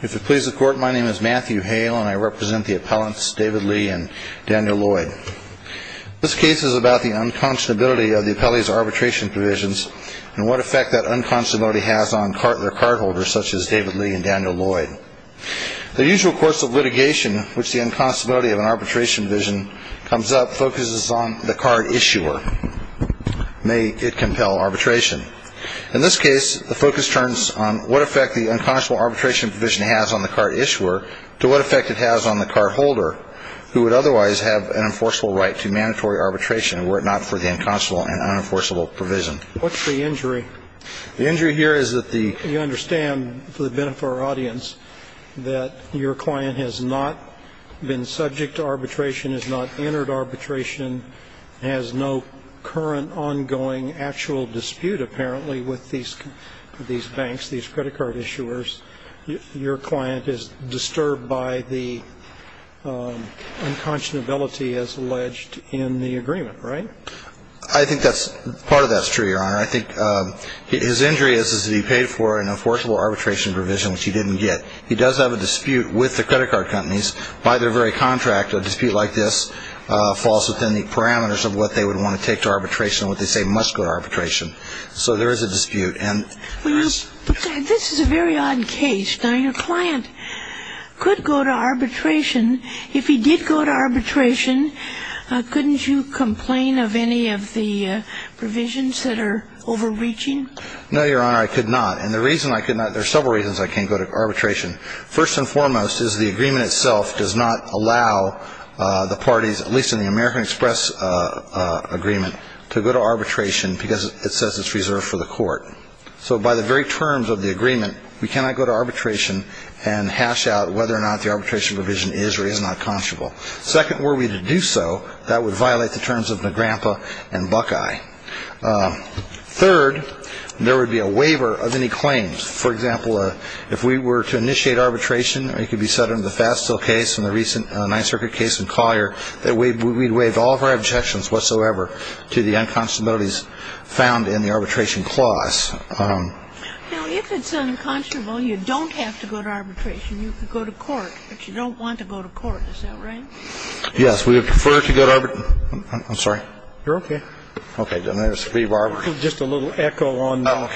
If it pleases the Court, my name is Matthew Hale, and I represent the appellants David Lee and Daniel Lloyd. This case is about the unconscionability of the appellee's arbitration provisions and what effect that unconscionability has on their cardholders, such as David Lee and Daniel Lloyd. The usual course of litigation in which the unconscionability of an arbitration provision comes up focuses on the card issuer. May it compel arbitration. In this case, the focus turns on what effect the unconscionable arbitration provision has on the card issuer to what effect it has on the cardholder, who would otherwise have an enforceable right to mandatory arbitration were it not for the unconscionable and unenforceable provision. What's the injury? The injury here is that the You understand, for the benefit of our audience, that your client has not been subject to arbitration, has not entered arbitration, has no current ongoing actual dispute, apparently, with these banks, these credit card issuers. Your client is disturbed by the unconscionability as alleged in the agreement, right? I think part of that's true, Your Honor. I think his injury is that he paid for an enforceable arbitration provision, which he didn't get. He does have a dispute with the credit card companies by their very contract. A dispute like this falls within the parameters of what they would want to take to arbitration, what they say must go to arbitration. So there is a dispute. This is a very odd case. Now, your client could go to arbitration. If he did go to arbitration, couldn't you complain of any of the provisions that are overreaching? No, Your Honor, I could not. And the reason I could not, there are several reasons I can't go to arbitration. First and foremost is the agreement itself does not allow the parties, at least in the American Express agreement, to go to arbitration because it says it's reserved for the court. So by the very terms of the agreement, we cannot go to arbitration and hash out whether or not the arbitration provision is or is not conscionable. Second, were we to do so, that would violate the terms of NAGRAMPA and Buckeye. Third, there would be a waiver of any claims. For example, if we were to initiate arbitration, it could be set under the Fastil case and the recent Ninth Circuit case in Collier, that we'd waive all of our objections whatsoever to the unconscionabilities found in the arbitration clause. Now, if it's unconscionable, you don't have to go to arbitration. You could go to court, but you don't want to go to court. Is that right? Yes, we would prefer to go to arbitration. I'm sorry. You're okay. Okay. Just a little echo on the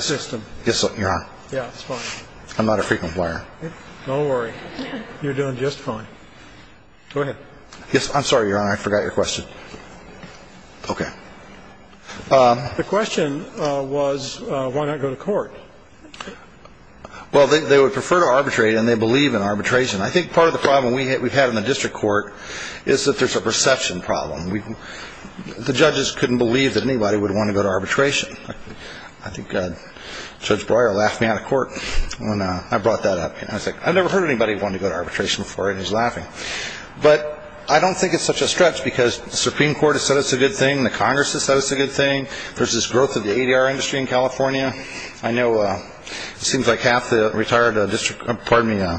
system. I'm okay. Yes, Your Honor. Yeah, it's fine. I'm not a frequent player. Don't worry. You're doing just fine. Go ahead. Yes, I'm sorry, Your Honor. I forgot your question. Okay. The question was, why not go to court? Well, they would prefer to arbitrate, and they believe in arbitration. I think part of the problem we've had in the district court is that there's a perception problem. The judges couldn't believe that anybody would want to go to arbitration. I think Judge Breyer laughed me out of court when I brought that up. I was like, I've never heard anybody want to go to arbitration before, and he's laughing. But I don't think it's such a stretch because the Supreme Court has said it's a good thing. The Congress has said it's a good thing. There's this growth of the ADR industry in California. I know it seems like half the retired district, pardon me,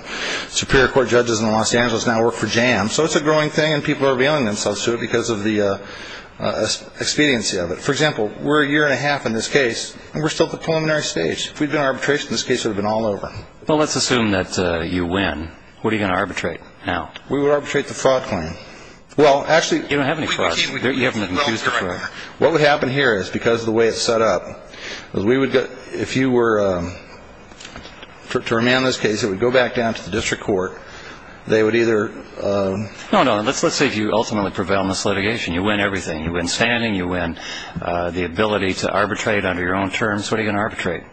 Superior Court judges in Los Angeles now work for JAM. So it's a growing thing, and people are revealing themselves to it because of the expediency of it. For example, we're a year and a half in this case, and we're still at the preliminary stage. If we'd been in arbitration, this case would have been all over. Well, let's assume that you win. What are you going to arbitrate now? We would arbitrate the fraud claim. Well, actually. You don't have any frauds. You haven't been accused of fraud. What would happen here is because of the way it's set up, if you were to remand this case, it would go back down to the district court. They would either... No, no. Let's say if you ultimately prevail in this litigation, you win everything. You win standing. You win the ability to arbitrate under your own terms. What are you going to arbitrate?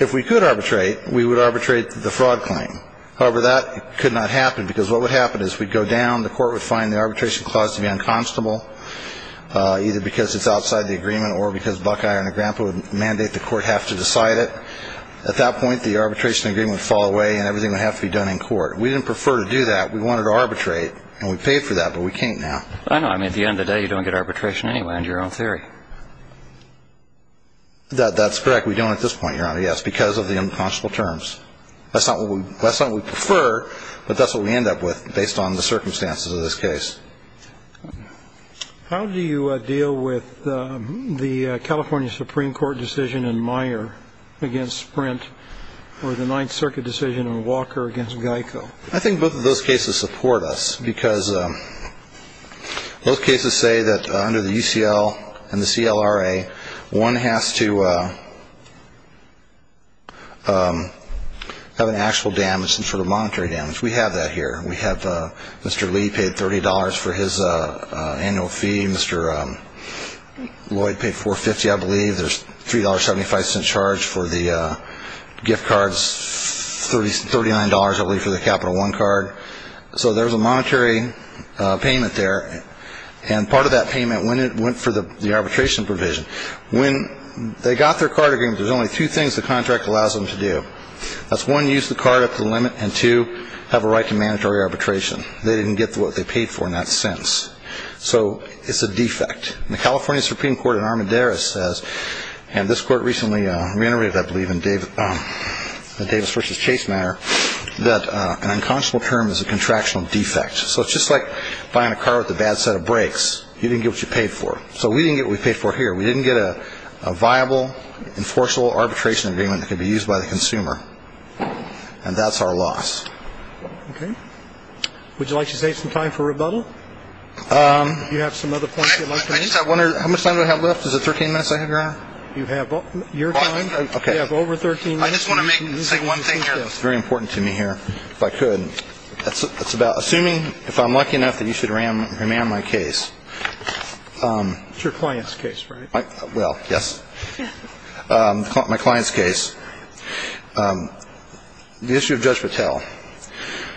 If we could arbitrate, we would arbitrate the fraud claim. However, that could not happen because what would happen is we'd go down. The court would find the arbitration clause to be unconstitutable, either because it's outside the agreement or because Buckeye or Negrempa would mandate the court have to decide it. At that point, the arbitration agreement would fall away and everything would have to be done in court. We didn't prefer to do that. We wanted to arbitrate, and we paid for that, but we can't now. I know. I mean, at the end of the day, you don't get arbitration anyway under your own theory. That's correct. We don't at this point, Your Honor, yes, because of the unconscionable terms. That's not what we prefer, but that's what we end up with based on the circumstances of this case. How do you deal with the California Supreme Court decision in Meyer against Sprint or the Ninth Circuit decision in Walker against Geico? I think both of those cases support us because both cases say that under the UCL and the CLRA, one has to have an actual damage, some sort of monetary damage. We have that here. We have Mr. Lee paid $30 for his annual fee. Mr. Lloyd paid $4.50, I believe. There's $3.75 in charge for the gift cards, $39, I believe, for the Capital One card. So there's a monetary payment there, and part of that payment went for the arbitration provision. When they got their card agreement, there's only two things the contract allows them to do. That's one, use the card up to the limit, and two, have a right to mandatory arbitration. They didn't get what they paid for in that sense. So it's a defect. The California Supreme Court in Armendariz says, and this court recently reiterated, I believe, in the Davis v. Chase matter, that an unconscionable term is a contractual defect. So it's just like buying a car with a bad set of brakes. You didn't get what you paid for. So we didn't get what we paid for here. We didn't get a viable, enforceable arbitration agreement that could be used by the consumer. And that's our loss. Okay. Would you like to save some time for rebuttal? Do you have some other points you'd like to make? How much time do I have left? Is it 13 minutes I have left? You have your time. You have over 13 minutes. I just want to make and say one thing here that's very important to me here, if I could. It's about assuming, if I'm lucky enough, that you should remand my case. It's your client's case, right? Well, yes. My client's case. The issue of Judge Patel.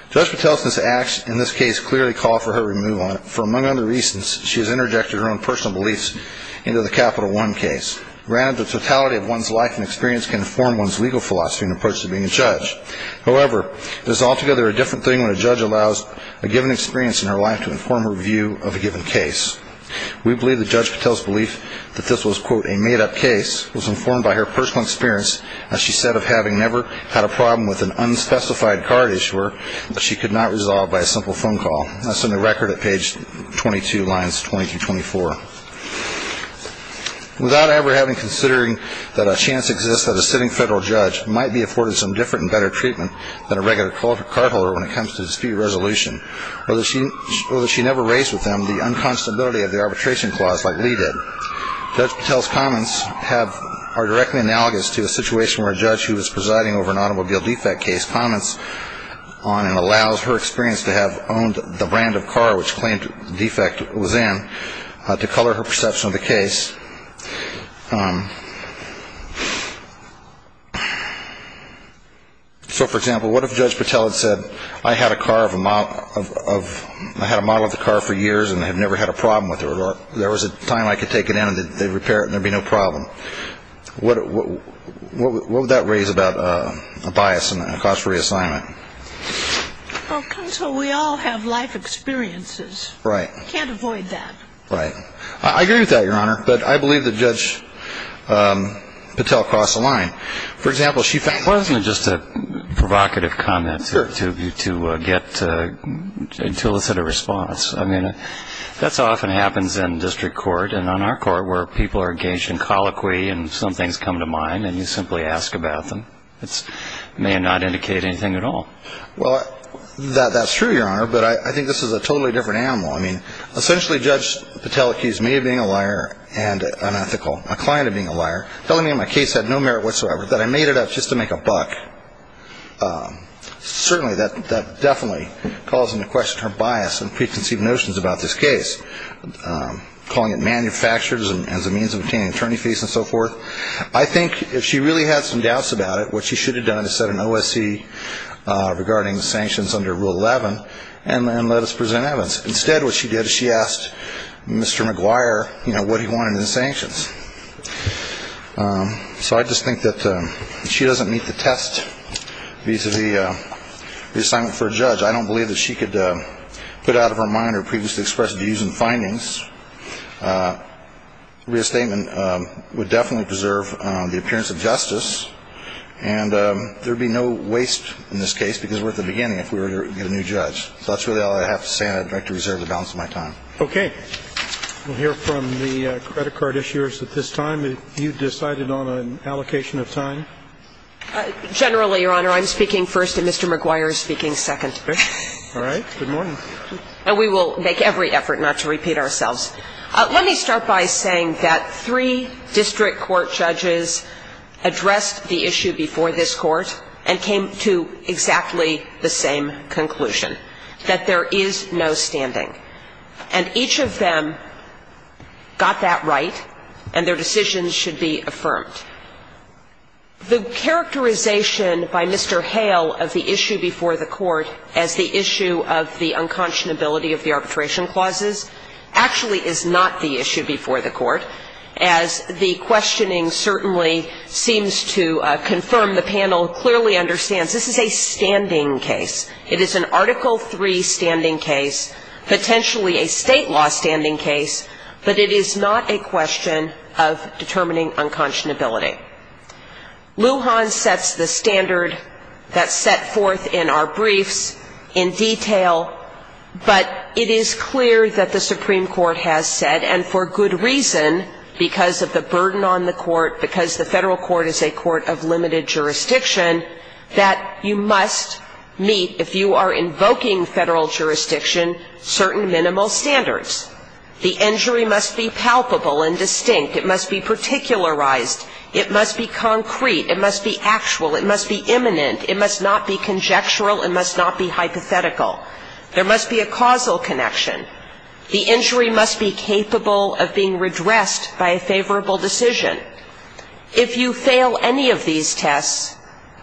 Judge Patel's acts in this case clearly call for her removal. For among other reasons, she has interjected her own personal beliefs into the Capital One case. Granted, the totality of one's life and experience can inform one's legal philosophy and approach to being a judge. However, it is altogether a different thing when a judge allows a given experience in her life to inform her view of a given case. We believe that Judge Patel's belief that this was, quote, a made-up case was informed by her personal experience, as she said, of having never had a problem with an unspecified card issuer that she could not resolve by a simple phone call. That's in the record at page 22, lines 20 through 24. Without ever having considering that a chance exists that a sitting federal judge might be afforded some different and better treatment than a regular cardholder when it comes to dispute resolution, or that she never raised with them the unconstability of the arbitration clause like Lee did, Judge Patel's comments are directly analogous to a situation where a judge who was presiding over an automobile defect case comments on and allows her experience to have owned the brand of car which claimed defect was in to color her perception of the case. So, for example, what if Judge Patel had said, I had a model of the car for years and I've never had a problem with it, or there was a time I could take it in and they'd repair it and there'd be no problem. What would that raise about a bias and a cost for reassignment? Well, counsel, we all have life experiences. Right. We can't avoid that. Right. I agree with that, Your Honor. But I believe that Judge Patel crossed the line. For example, she found Well, isn't it just a provocative comment to get an illicit response? I mean, that often happens in district court and on our court where people are engaged in colloquy and some things come to mind and you simply ask about them. It may not indicate anything at all. Well, that's true, Your Honor. But I think this is a totally different animal. I mean, essentially, Judge Patel accused me of being a liar and unethical, a client of being a liar, telling me my case had no merit whatsoever, that I made it up just to make a buck. Certainly, that definitely calls into question her bias and preconceived notions about this case, calling it manufactured as a means of obtaining attorney fees and so forth. I think if she really had some doubts about it, what she should have done is set an OSC regarding sanctions under Rule 11 and let us present evidence. Instead, what she did is she asked Mr. McGuire what he wanted in the sanctions. So I just think that if she doesn't meet the test vis-à-vis reassignment for a judge, I don't believe that she could put out of her mind her previously expressed views and findings. Reassignment would definitely preserve the appearance of justice, and there would be no waste in this case because we're at the beginning if we were to get a new judge. So that's really all I have to say, and I'd like to reserve the balance of my time. Okay. We'll hear from the credit card issuers at this time. Have you decided on an allocation of time? Generally, Your Honor, I'm speaking first and Mr. McGuire is speaking second. All right. Good morning. And we will make every effort not to repeat ourselves. Let me start by saying that three district court judges addressed the issue before this Court and came to exactly the same conclusion, that there is no standing. And each of them got that right, and their decisions should be affirmed. The characterization by Mr. Hale of the issue before the Court as the issue of the unconscionability of the arbitration clauses actually is not the issue before the panel clearly understands this is a standing case. It is an Article III standing case, potentially a state law standing case, but it is not a question of determining unconscionability. Lujan sets the standard that's set forth in our briefs in detail, but it is clear that the Supreme Court has said, and for good reason, because of the burden on the Court, because the Federal Court is a Court of limited jurisdiction, that you must meet, if you are invoking Federal jurisdiction, certain minimal standards. The injury must be palpable and distinct. It must be particularized. It must be concrete. It must be actual. It must be imminent. It must not be conjectural. It must not be hypothetical. There must be a causal connection. The injury must be capable of being redressed by a favorable decision. If you fail any of these tests,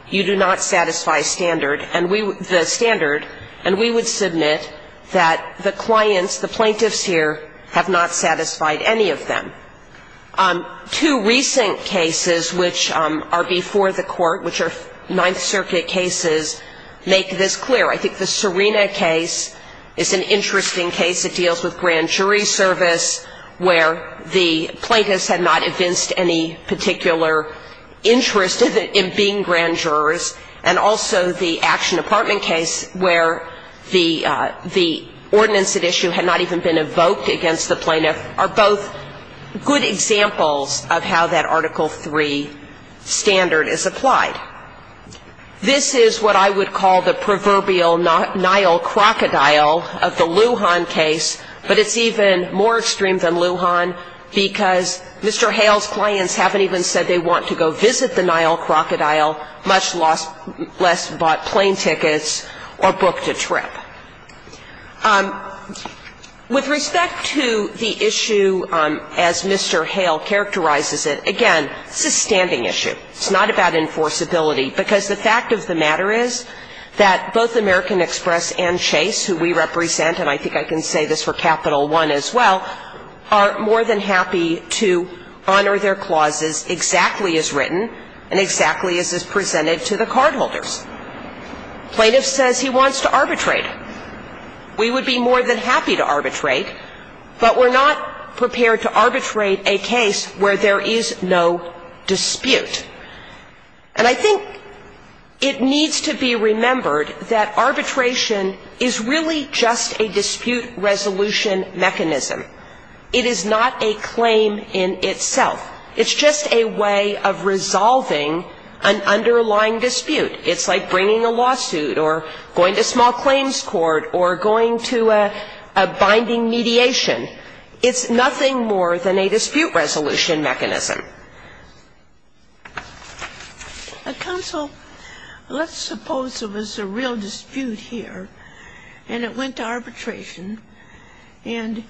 you do not satisfy standard, the standard, and we would submit that the clients, the plaintiffs here, have not satisfied any of them. Two recent cases which are before the Court, which are Ninth Circuit cases, make this clear. I think the Serena case is an interesting case. It deals with grand jury service, where the plaintiffs had not evinced any particular interest in being grand jurors, and also the Action Department case, where the ordinance at issue had not even been evoked against the plaintiff, are both good examples of how that Article III standard is applied. This is what I would call the proverbial Nile crocodile of the Lujan case, but it's even more extreme than Lujan because Mr. Hale's clients haven't even said they want to go visit the Nile crocodile, much less bought plane tickets or booked a trip. With respect to the issue as Mr. Hale characterizes it, again, it's a standing issue. It's not about enforceability, because the fact of the matter is that both American Express and Chase, who we represent, and I think I can say this for Capital One as well, are more than happy to honor their clauses exactly as written and exactly as is presented to the cardholders. Plaintiff says he wants to arbitrate. We would be more than happy to arbitrate, but we're not prepared to arbitrate a case where there is no dispute. And I think it needs to be remembered that arbitration is really just a dispute resolution mechanism. It is not a claim in itself. It's just a way of resolving an underlying dispute. It's like bringing a lawsuit or going to small claims court or going to a binding mediation. It's nothing more than a dispute resolution mechanism. Counsel, let's suppose there was a real dispute here, and it went to arbitration, and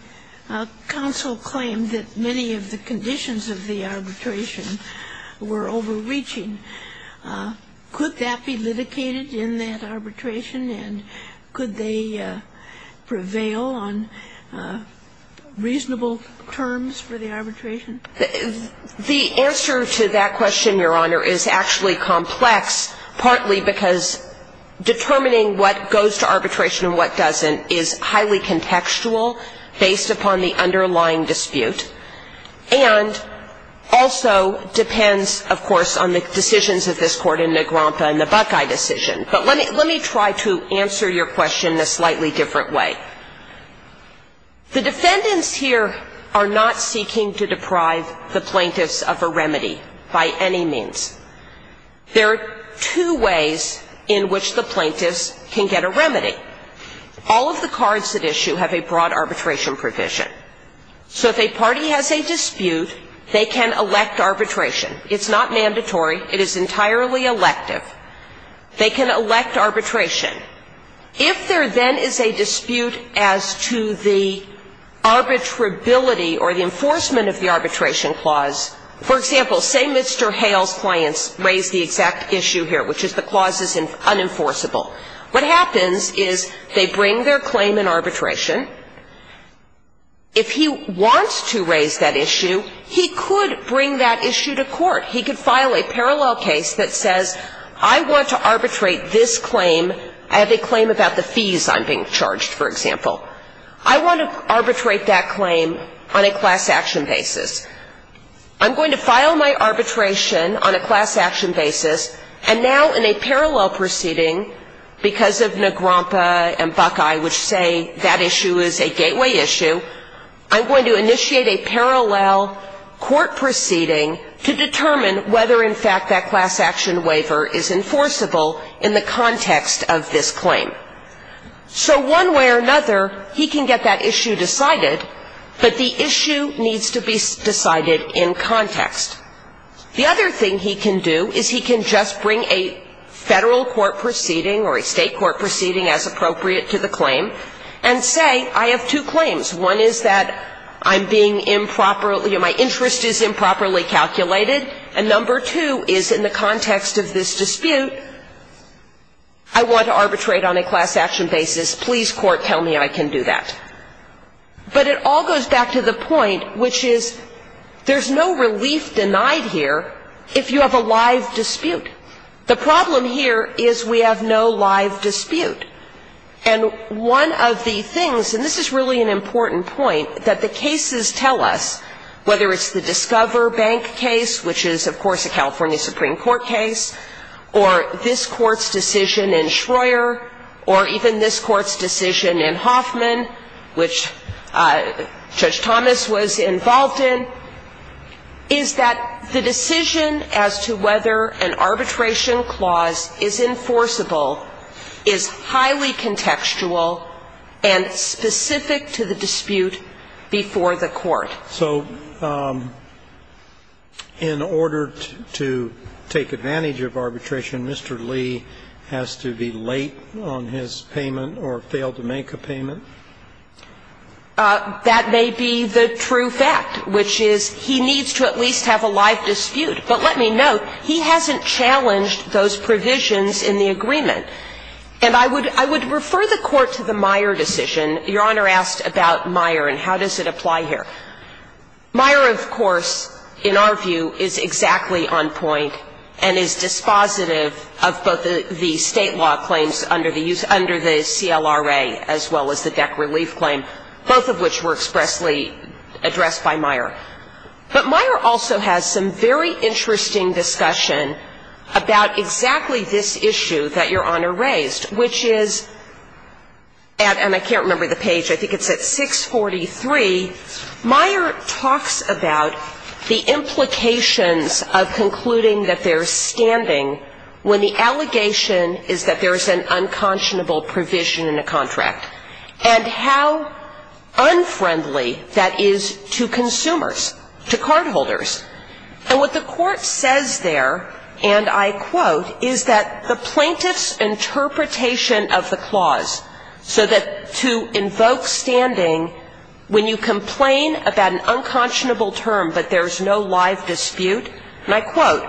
counsel claimed that many of the conditions of the arbitration were overreaching. Could that be litigated in that arbitration, and could they prevail on the reasonable terms for the arbitration? The answer to that question, Your Honor, is actually complex, partly because determining what goes to arbitration and what doesn't is highly contextual based upon the underlying dispute and also depends, of course, on the decisions of this Court in the Grampa and the Buckeye decision. But let me try to answer your question in a slightly different way. The defendants here are not seeking to deprive the plaintiffs of a remedy by any means. There are two ways in which the plaintiffs can get a remedy. All of the cards at issue have a broad arbitration provision. So if a party has a dispute, they can elect arbitration. It's not mandatory. It is entirely elective. They can elect arbitration. If there then is a dispute as to the arbitrability or the enforcement of the arbitration clause, for example, say Mr. Hale's clients raise the exact issue here, which is the clause is unenforceable. What happens is they bring their claim in arbitration. If he wants to raise that issue, he could bring that issue to court. He could file a parallel case that says I want to arbitrate this claim. I have a claim about the fees I'm being charged, for example. I want to arbitrate that claim on a class-action basis. I'm going to file my arbitration on a class-action basis, and now in a parallel proceeding, because of Negrompa and Buckeye, which say that issue is a gateway issue, I'm going to initiate a parallel court proceeding to determine whether in fact that class-action waiver is enforceable in the context of this claim. So one way or another, he can get that issue decided, but the issue needs to be decided in context. The other thing he can do is he can just bring a Federal court proceeding or a State court proceeding as appropriate to the claim and say I have two claims. One is that I'm being improperly or my interest is improperly calculated, and number two is in the context of this dispute, I want to arbitrate on a class-action basis. Please, court, tell me I can do that. But it all goes back to the point which is there's no relief denied here if you have a live dispute. The problem here is we have no live dispute. And one of the things, and this is really an important point, that the cases tell us, whether it's the Discover Bank case, which is, of course, a California Supreme Court case, or this Court's decision in Schroer, or even this Court's decision in Hoffman, which Judge Thomas was involved in, is that the decision as to whether an arbitration clause is enforceable is highly contextual and specific to the dispute before the court. So in order to take advantage of arbitration, Mr. Lee has to be late on his payment or fail to make a payment? That may be the true fact, which is he needs to at least have a live dispute. But let me note, he hasn't challenged those provisions in the agreement. And I would refer the Court to the Meyer decision. Your Honor asked about Meyer and how does it apply here. Meyer, of course, in our view, is exactly on point and is dispositive of both the State law claims under the CLRA as well as the DEC relief claim, both of which were expressly addressed by Meyer. But Meyer also has some very interesting discussion about exactly this issue that Your Honor raised, which is, and I can't remember the page, I think it's at 643, Meyer talks about the implications of concluding that they're standing when the allegation is that there is an unconscionable provision in a contract, and how And what the Court says there, and I quote, is that the plaintiff's interpretation of the clause so that to invoke standing when you complain about an unconscionable term but there's no live dispute, and I quote,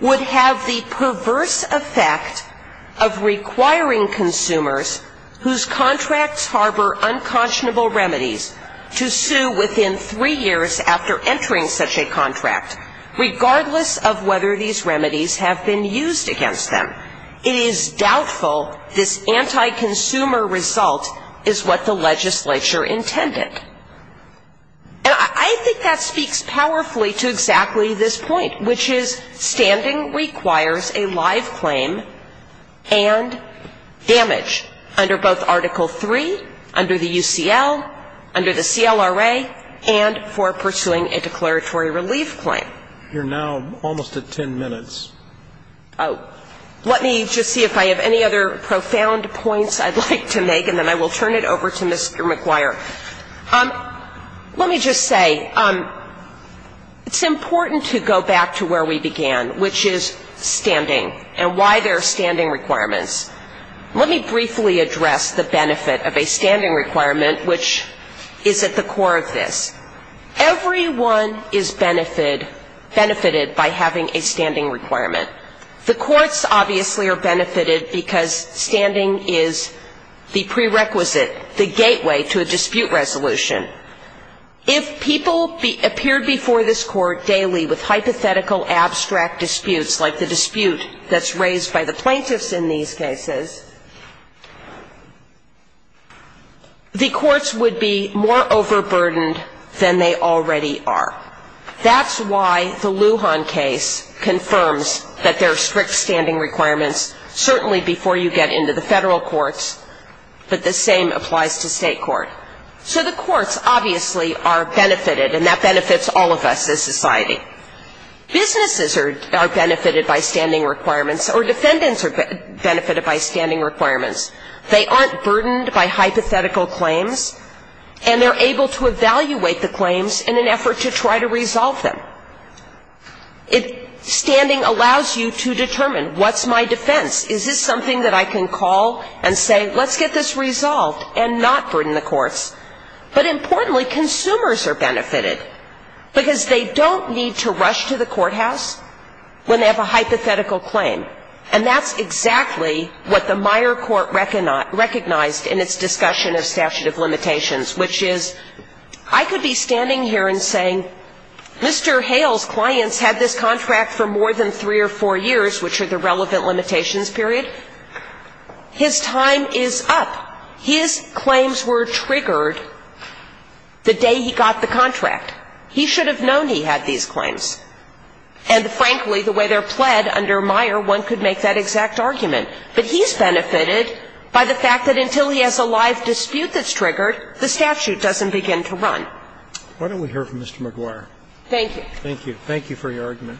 would have the perverse effect of requiring consumers whose contracts harbor unconscionable remedies to sue within three years after entering such a contract, regardless of whether these remedies have been used against them. It is doubtful this anti-consumer result is what the legislature intended. And I think that speaks powerfully to exactly this point, which is standing requires a live claim and damage under both Article III, under the UCL, under the Constitution, and for pursuing a declaratory relief claim. You're now almost at 10 minutes. Oh. Let me just see if I have any other profound points I'd like to make, and then I will turn it over to Mr. McGuire. Let me just say, it's important to go back to where we began, which is standing and why there are standing requirements. Let me briefly address the benefit of a standing requirement, which is at the core of this. Everyone is benefited by having a standing requirement. The courts obviously are benefited because standing is the prerequisite, the gateway to a dispute resolution. If people appeared before this court daily with hypothetical abstract disputes like the dispute that's raised by the plaintiffs in these cases, the courts would be more overburdened than they already are. That's why the Lujan case confirms that there are strict standing requirements, certainly before you get into the federal courts, but the same applies to state court. So the courts obviously are benefited, and that benefits all of us as witnesses are benefited by standing requirements, or defendants are benefited by standing requirements. They aren't burdened by hypothetical claims, and they're able to evaluate the claims in an effort to try to resolve them. If standing allows you to determine what's my defense, is this something that I can call and say, let's get this resolved, and not burden the courts. But importantly, consumers are benefited, because they don't need to rush to the courthouse when they have a hypothetical claim. And that's exactly what the Meyer Court recognized in its discussion of statute of limitations, which is I could be standing here and saying, Mr. Hale's clients had this contract for more than three or four years, which are the relevant limitations period. His time is up. His claims were triggered the day he got the contract. He should have known he had these claims. And frankly, the way they're pled under Meyer, one could make that exact argument. But he's benefited by the fact that until he has a live dispute that's triggered, the statute doesn't begin to run. Why don't we hear from Mr. McGuire? Thank you. Thank you. Thank you for your argument.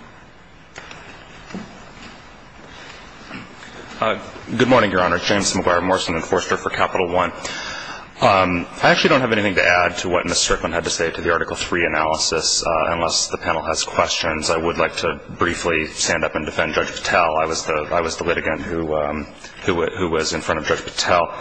Good morning, Your Honor. James McGuire, Morrison Enforcer for Capital One. I actually don't have anything to add to what Ms. Strickland had to say to the Article 3 analysis unless the panel has questions. I would like to briefly stand up and defend Judge Patel. I was the litigant who was in front of Judge Patel.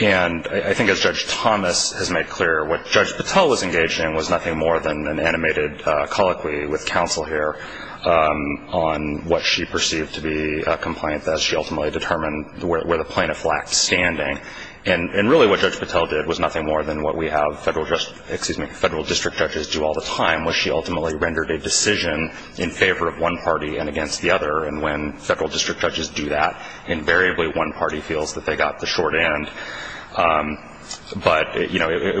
And I think as Judge Thomas has made clear, what Judge Patel was engaged in was nothing more than an animated colloquy with counsel here on what she perceived to be a complaint that she ultimately determined where the plaintiff lacked standing. And really what Judge Patel did was nothing more than what we have federal district judges do all the time, where she ultimately rendered a decision in favor of one party and against the other. And when federal district judges do that, invariably one party feels that they got the short end. But it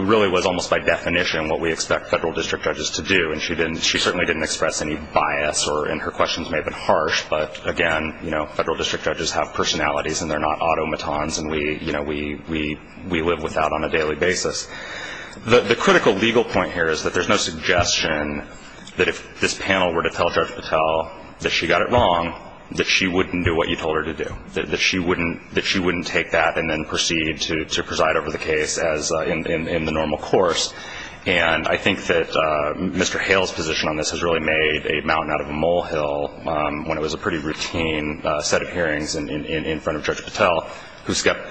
really was almost by definition what we expect federal district judges to do. And she certainly didn't express any bias. And her questions may have been harsh. But again, federal district judges have personalities, and they're not automatons. And we live with that on a daily basis. The critical legal point here is that there's no suggestion that if this panel were to tell Judge Patel that she got it wrong, that she wouldn't do what you told her to do, that she wouldn't take that and then proceed to preside over the case as in the normal course. And I think that Mr. Hale's position on this has really made a mountain out of a molehill when it was a pretty routine set of hearings in front of Judge Patel,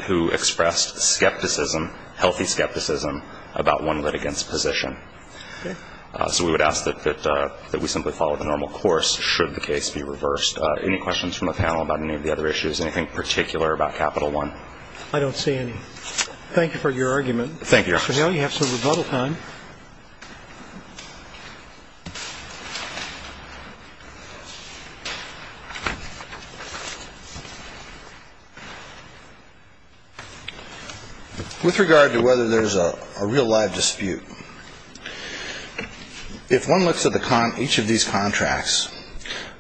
who expressed skepticism, healthy skepticism about one litigant's position. So we would ask that we simply follow the normal course should the case be reversed. Any questions from the panel about any of the other issues? Anything particular about Capital One? I don't see any. Thank you for your argument. Thank you, Your Honor. Mr. Hale, you have some rebuttal time. With regard to whether there's a real live dispute, if one looks at each of these contracts,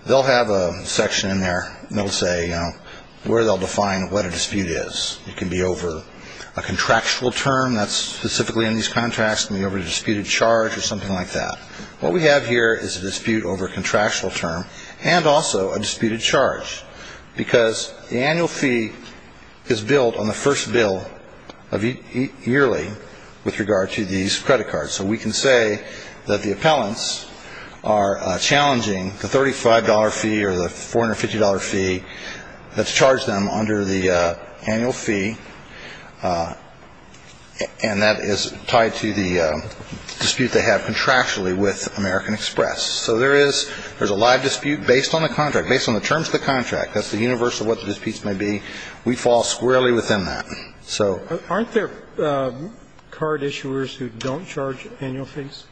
they'll have a section in there that will say where they'll define what a contract is, whether it's specifically in these contracts, maybe over a disputed charge or something like that. What we have here is a dispute over a contractual term and also a disputed charge, because the annual fee is billed on the first bill yearly with regard to these credit cards. So we can say that the appellants are challenging the $35 fee or the $450 fee that's tied to the dispute they have contractually with American Express. So there is a live dispute based on the contract, based on the terms of the contract. That's the universe of what the disputes may be. We fall squarely within that. Aren't there card issuers who don't charge annual fees?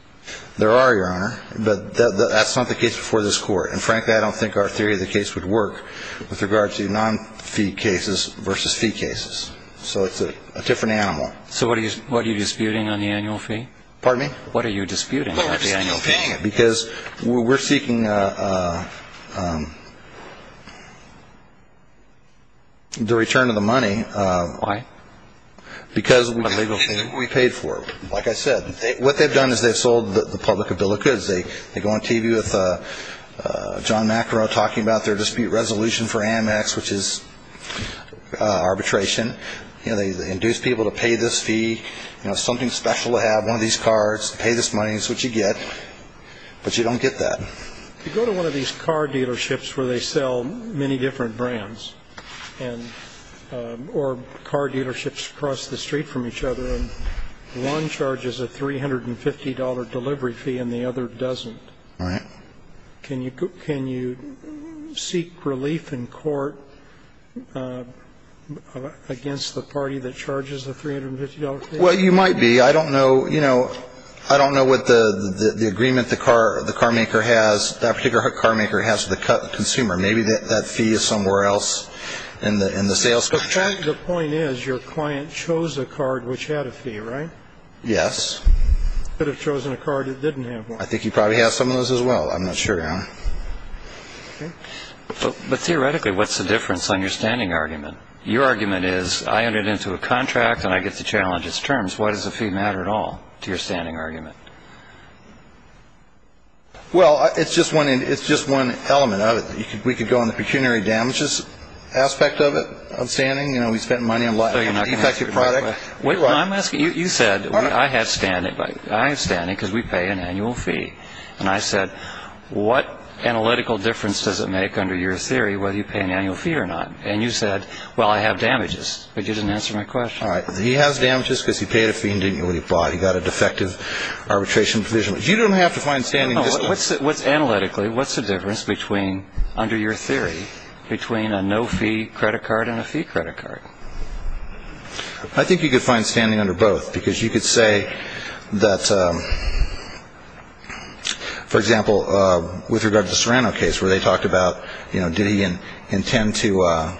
There are, Your Honor. But that's not the case before this Court. And frankly, I don't think our theory of the case would work with regard to non-fee cases versus fee cases. So it's a different animal. So what are you disputing on the annual fee? Pardon me? What are you disputing on the annual fee? Because we're seeking the return of the money. Why? Because we paid for it. Like I said, what they've done is they've sold the public a bill of goods. They go on TV with John Macro talking about their dispute resolution for Amex, which is arbitration. You know, they induce people to pay this fee, you know, something special to have, one of these cards, pay this money, that's what you get. But you don't get that. You go to one of these car dealerships where they sell many different brands, or car dealerships across the street from each other, and one charges a $350 delivery fee and the other doesn't. Right. Can you seek relief in court against the party that charges the $350 fee? Well, you might be. I don't know, you know, I don't know what the agreement the carmaker has, that particular carmaker has with the consumer. Maybe that fee is somewhere else in the sales. The point is your client chose a card which had a fee, right? Yes. Could have chosen a card that didn't have one. I think he probably has some of those as well. I'm not sure, Your Honor. But theoretically, what's the difference on your standing argument? Your argument is I entered into a contract and I get to challenge its terms. Why does the fee matter at all to your standing argument? Well, it's just one element of it. We could go on the pecuniary damages aspect of it, outstanding. You know, we spent money on a lot of ineffective products. You said I have standing because we pay an annual fee. And I said what analytical difference does it make under your theory whether you pay an annual fee or not? And you said, well, I have damages. But you didn't answer my question. All right. He has damages because he paid a fee and didn't know what he bought. He got a defective arbitration provision. You don't have to find standing. What's analytically, what's the difference between, under your theory, between a no-fee credit card and a fee credit card? I think you could find standing under both because you could say that, for example, with regard to the Serrano case where they talked about, you know, did he intend to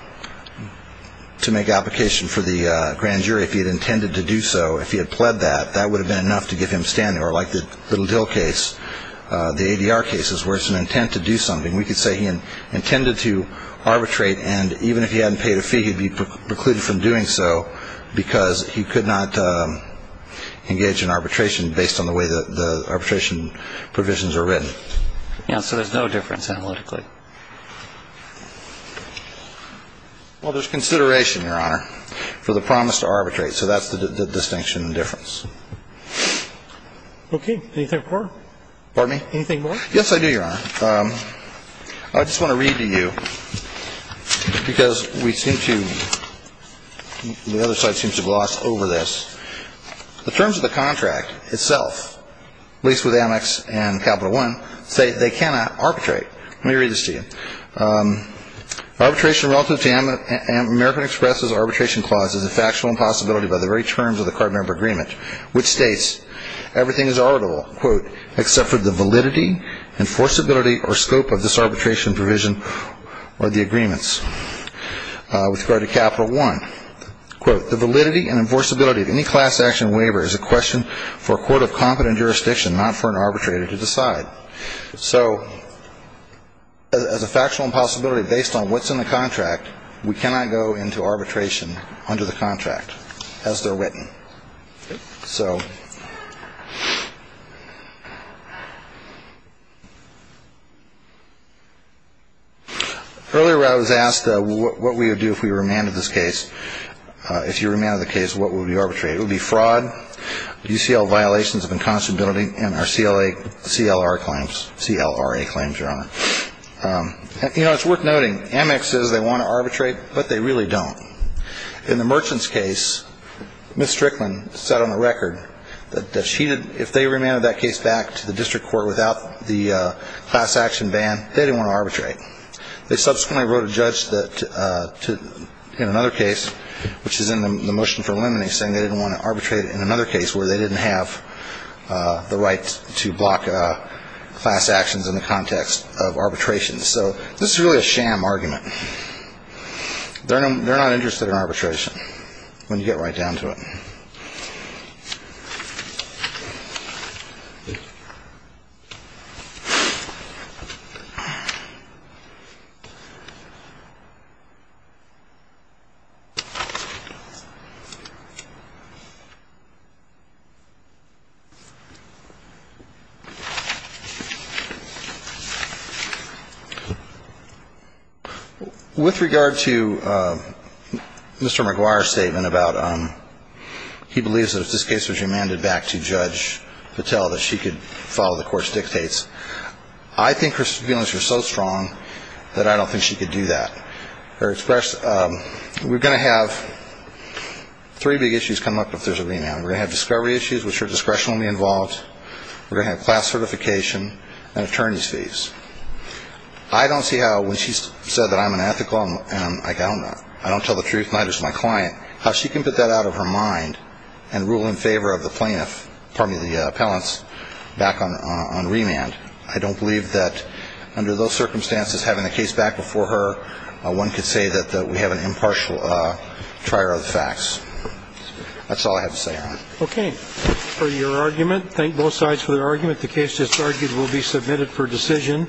make application for the grand jury if he had intended to do so, if he had pled that, that would have been enough to get him standing. Or like the Little Dill case, the ADR cases, where it's an intent to do something. We could say he intended to arbitrate, and even if he hadn't paid a fee he'd be precluded from doing so because he could not engage in arbitration based on the way the arbitration provisions are written. Yeah, so there's no difference analytically. Well, there's consideration, Your Honor, for the promise to arbitrate. So that's the distinction difference. Okay. Anything more? Pardon me? Anything more? Yes, I do, Your Honor. I just want to read to you because we seem to, the other side seems to gloss over this. The terms of the contract itself, at least with Amex and Capital One, say they cannot arbitrate. Let me read this to you. Arbitration relative to American Express's arbitration clause is a factual impossibility by the very terms of the card member agreement, which states, everything is arbitrable, quote, except for the validity, enforceability, or scope of this arbitration provision or the agreements with regard to Capital One. Quote, the validity and enforceability of any class action waiver is a question for a court of competent jurisdiction, not for an arbitrator to decide. So as a factual impossibility based on what's in the contract, we cannot go into arbitration under the contract as they're written. So earlier I was asked what we would do if we remanded this case. If you remanded the case, what would we arbitrate? It would be fraud, UCL violations of inconstability, and our CLR claims, CLRA claims, Your Honor. You know, it's worth noting, Amex says they want to arbitrate, but they really don't. In the Merchants case, Ms. Strickland said on the record that if they remanded that case back to the district court without the class action ban, they didn't want to arbitrate. They subsequently wrote a judge in another case, which is in the motion for eliminating, saying they didn't want to arbitrate in another case where they didn't have the right to block class actions in the context of arbitration. So this is really a sham argument. They're not interested in arbitration when you get right down to it. With regard to Mr. McGuire's statement about he believes that if this case was remanded back to Judge Patel that she could follow the court's dictates, I think her feelings are so strong that I don't think she could do that. We're going to have three big issues come up if there's a remand. We're going to have discovery issues, which her discretion will be involved. We're going to have class certification and attorney's fees. I don't see how when she said that I'm unethical and I don't know, I don't tell the truth and neither does my client, how she can put that out of her mind and rule in favor of the plaintiff, pardon me, the appellants back on remand. I don't believe that under those circumstances, having the case back before her, one could say that we have an impartial trier of the facts. That's all I have to say, Your Honor. Okay. For your argument, thank both sides for their argument. The case that's argued will be submitted for decision.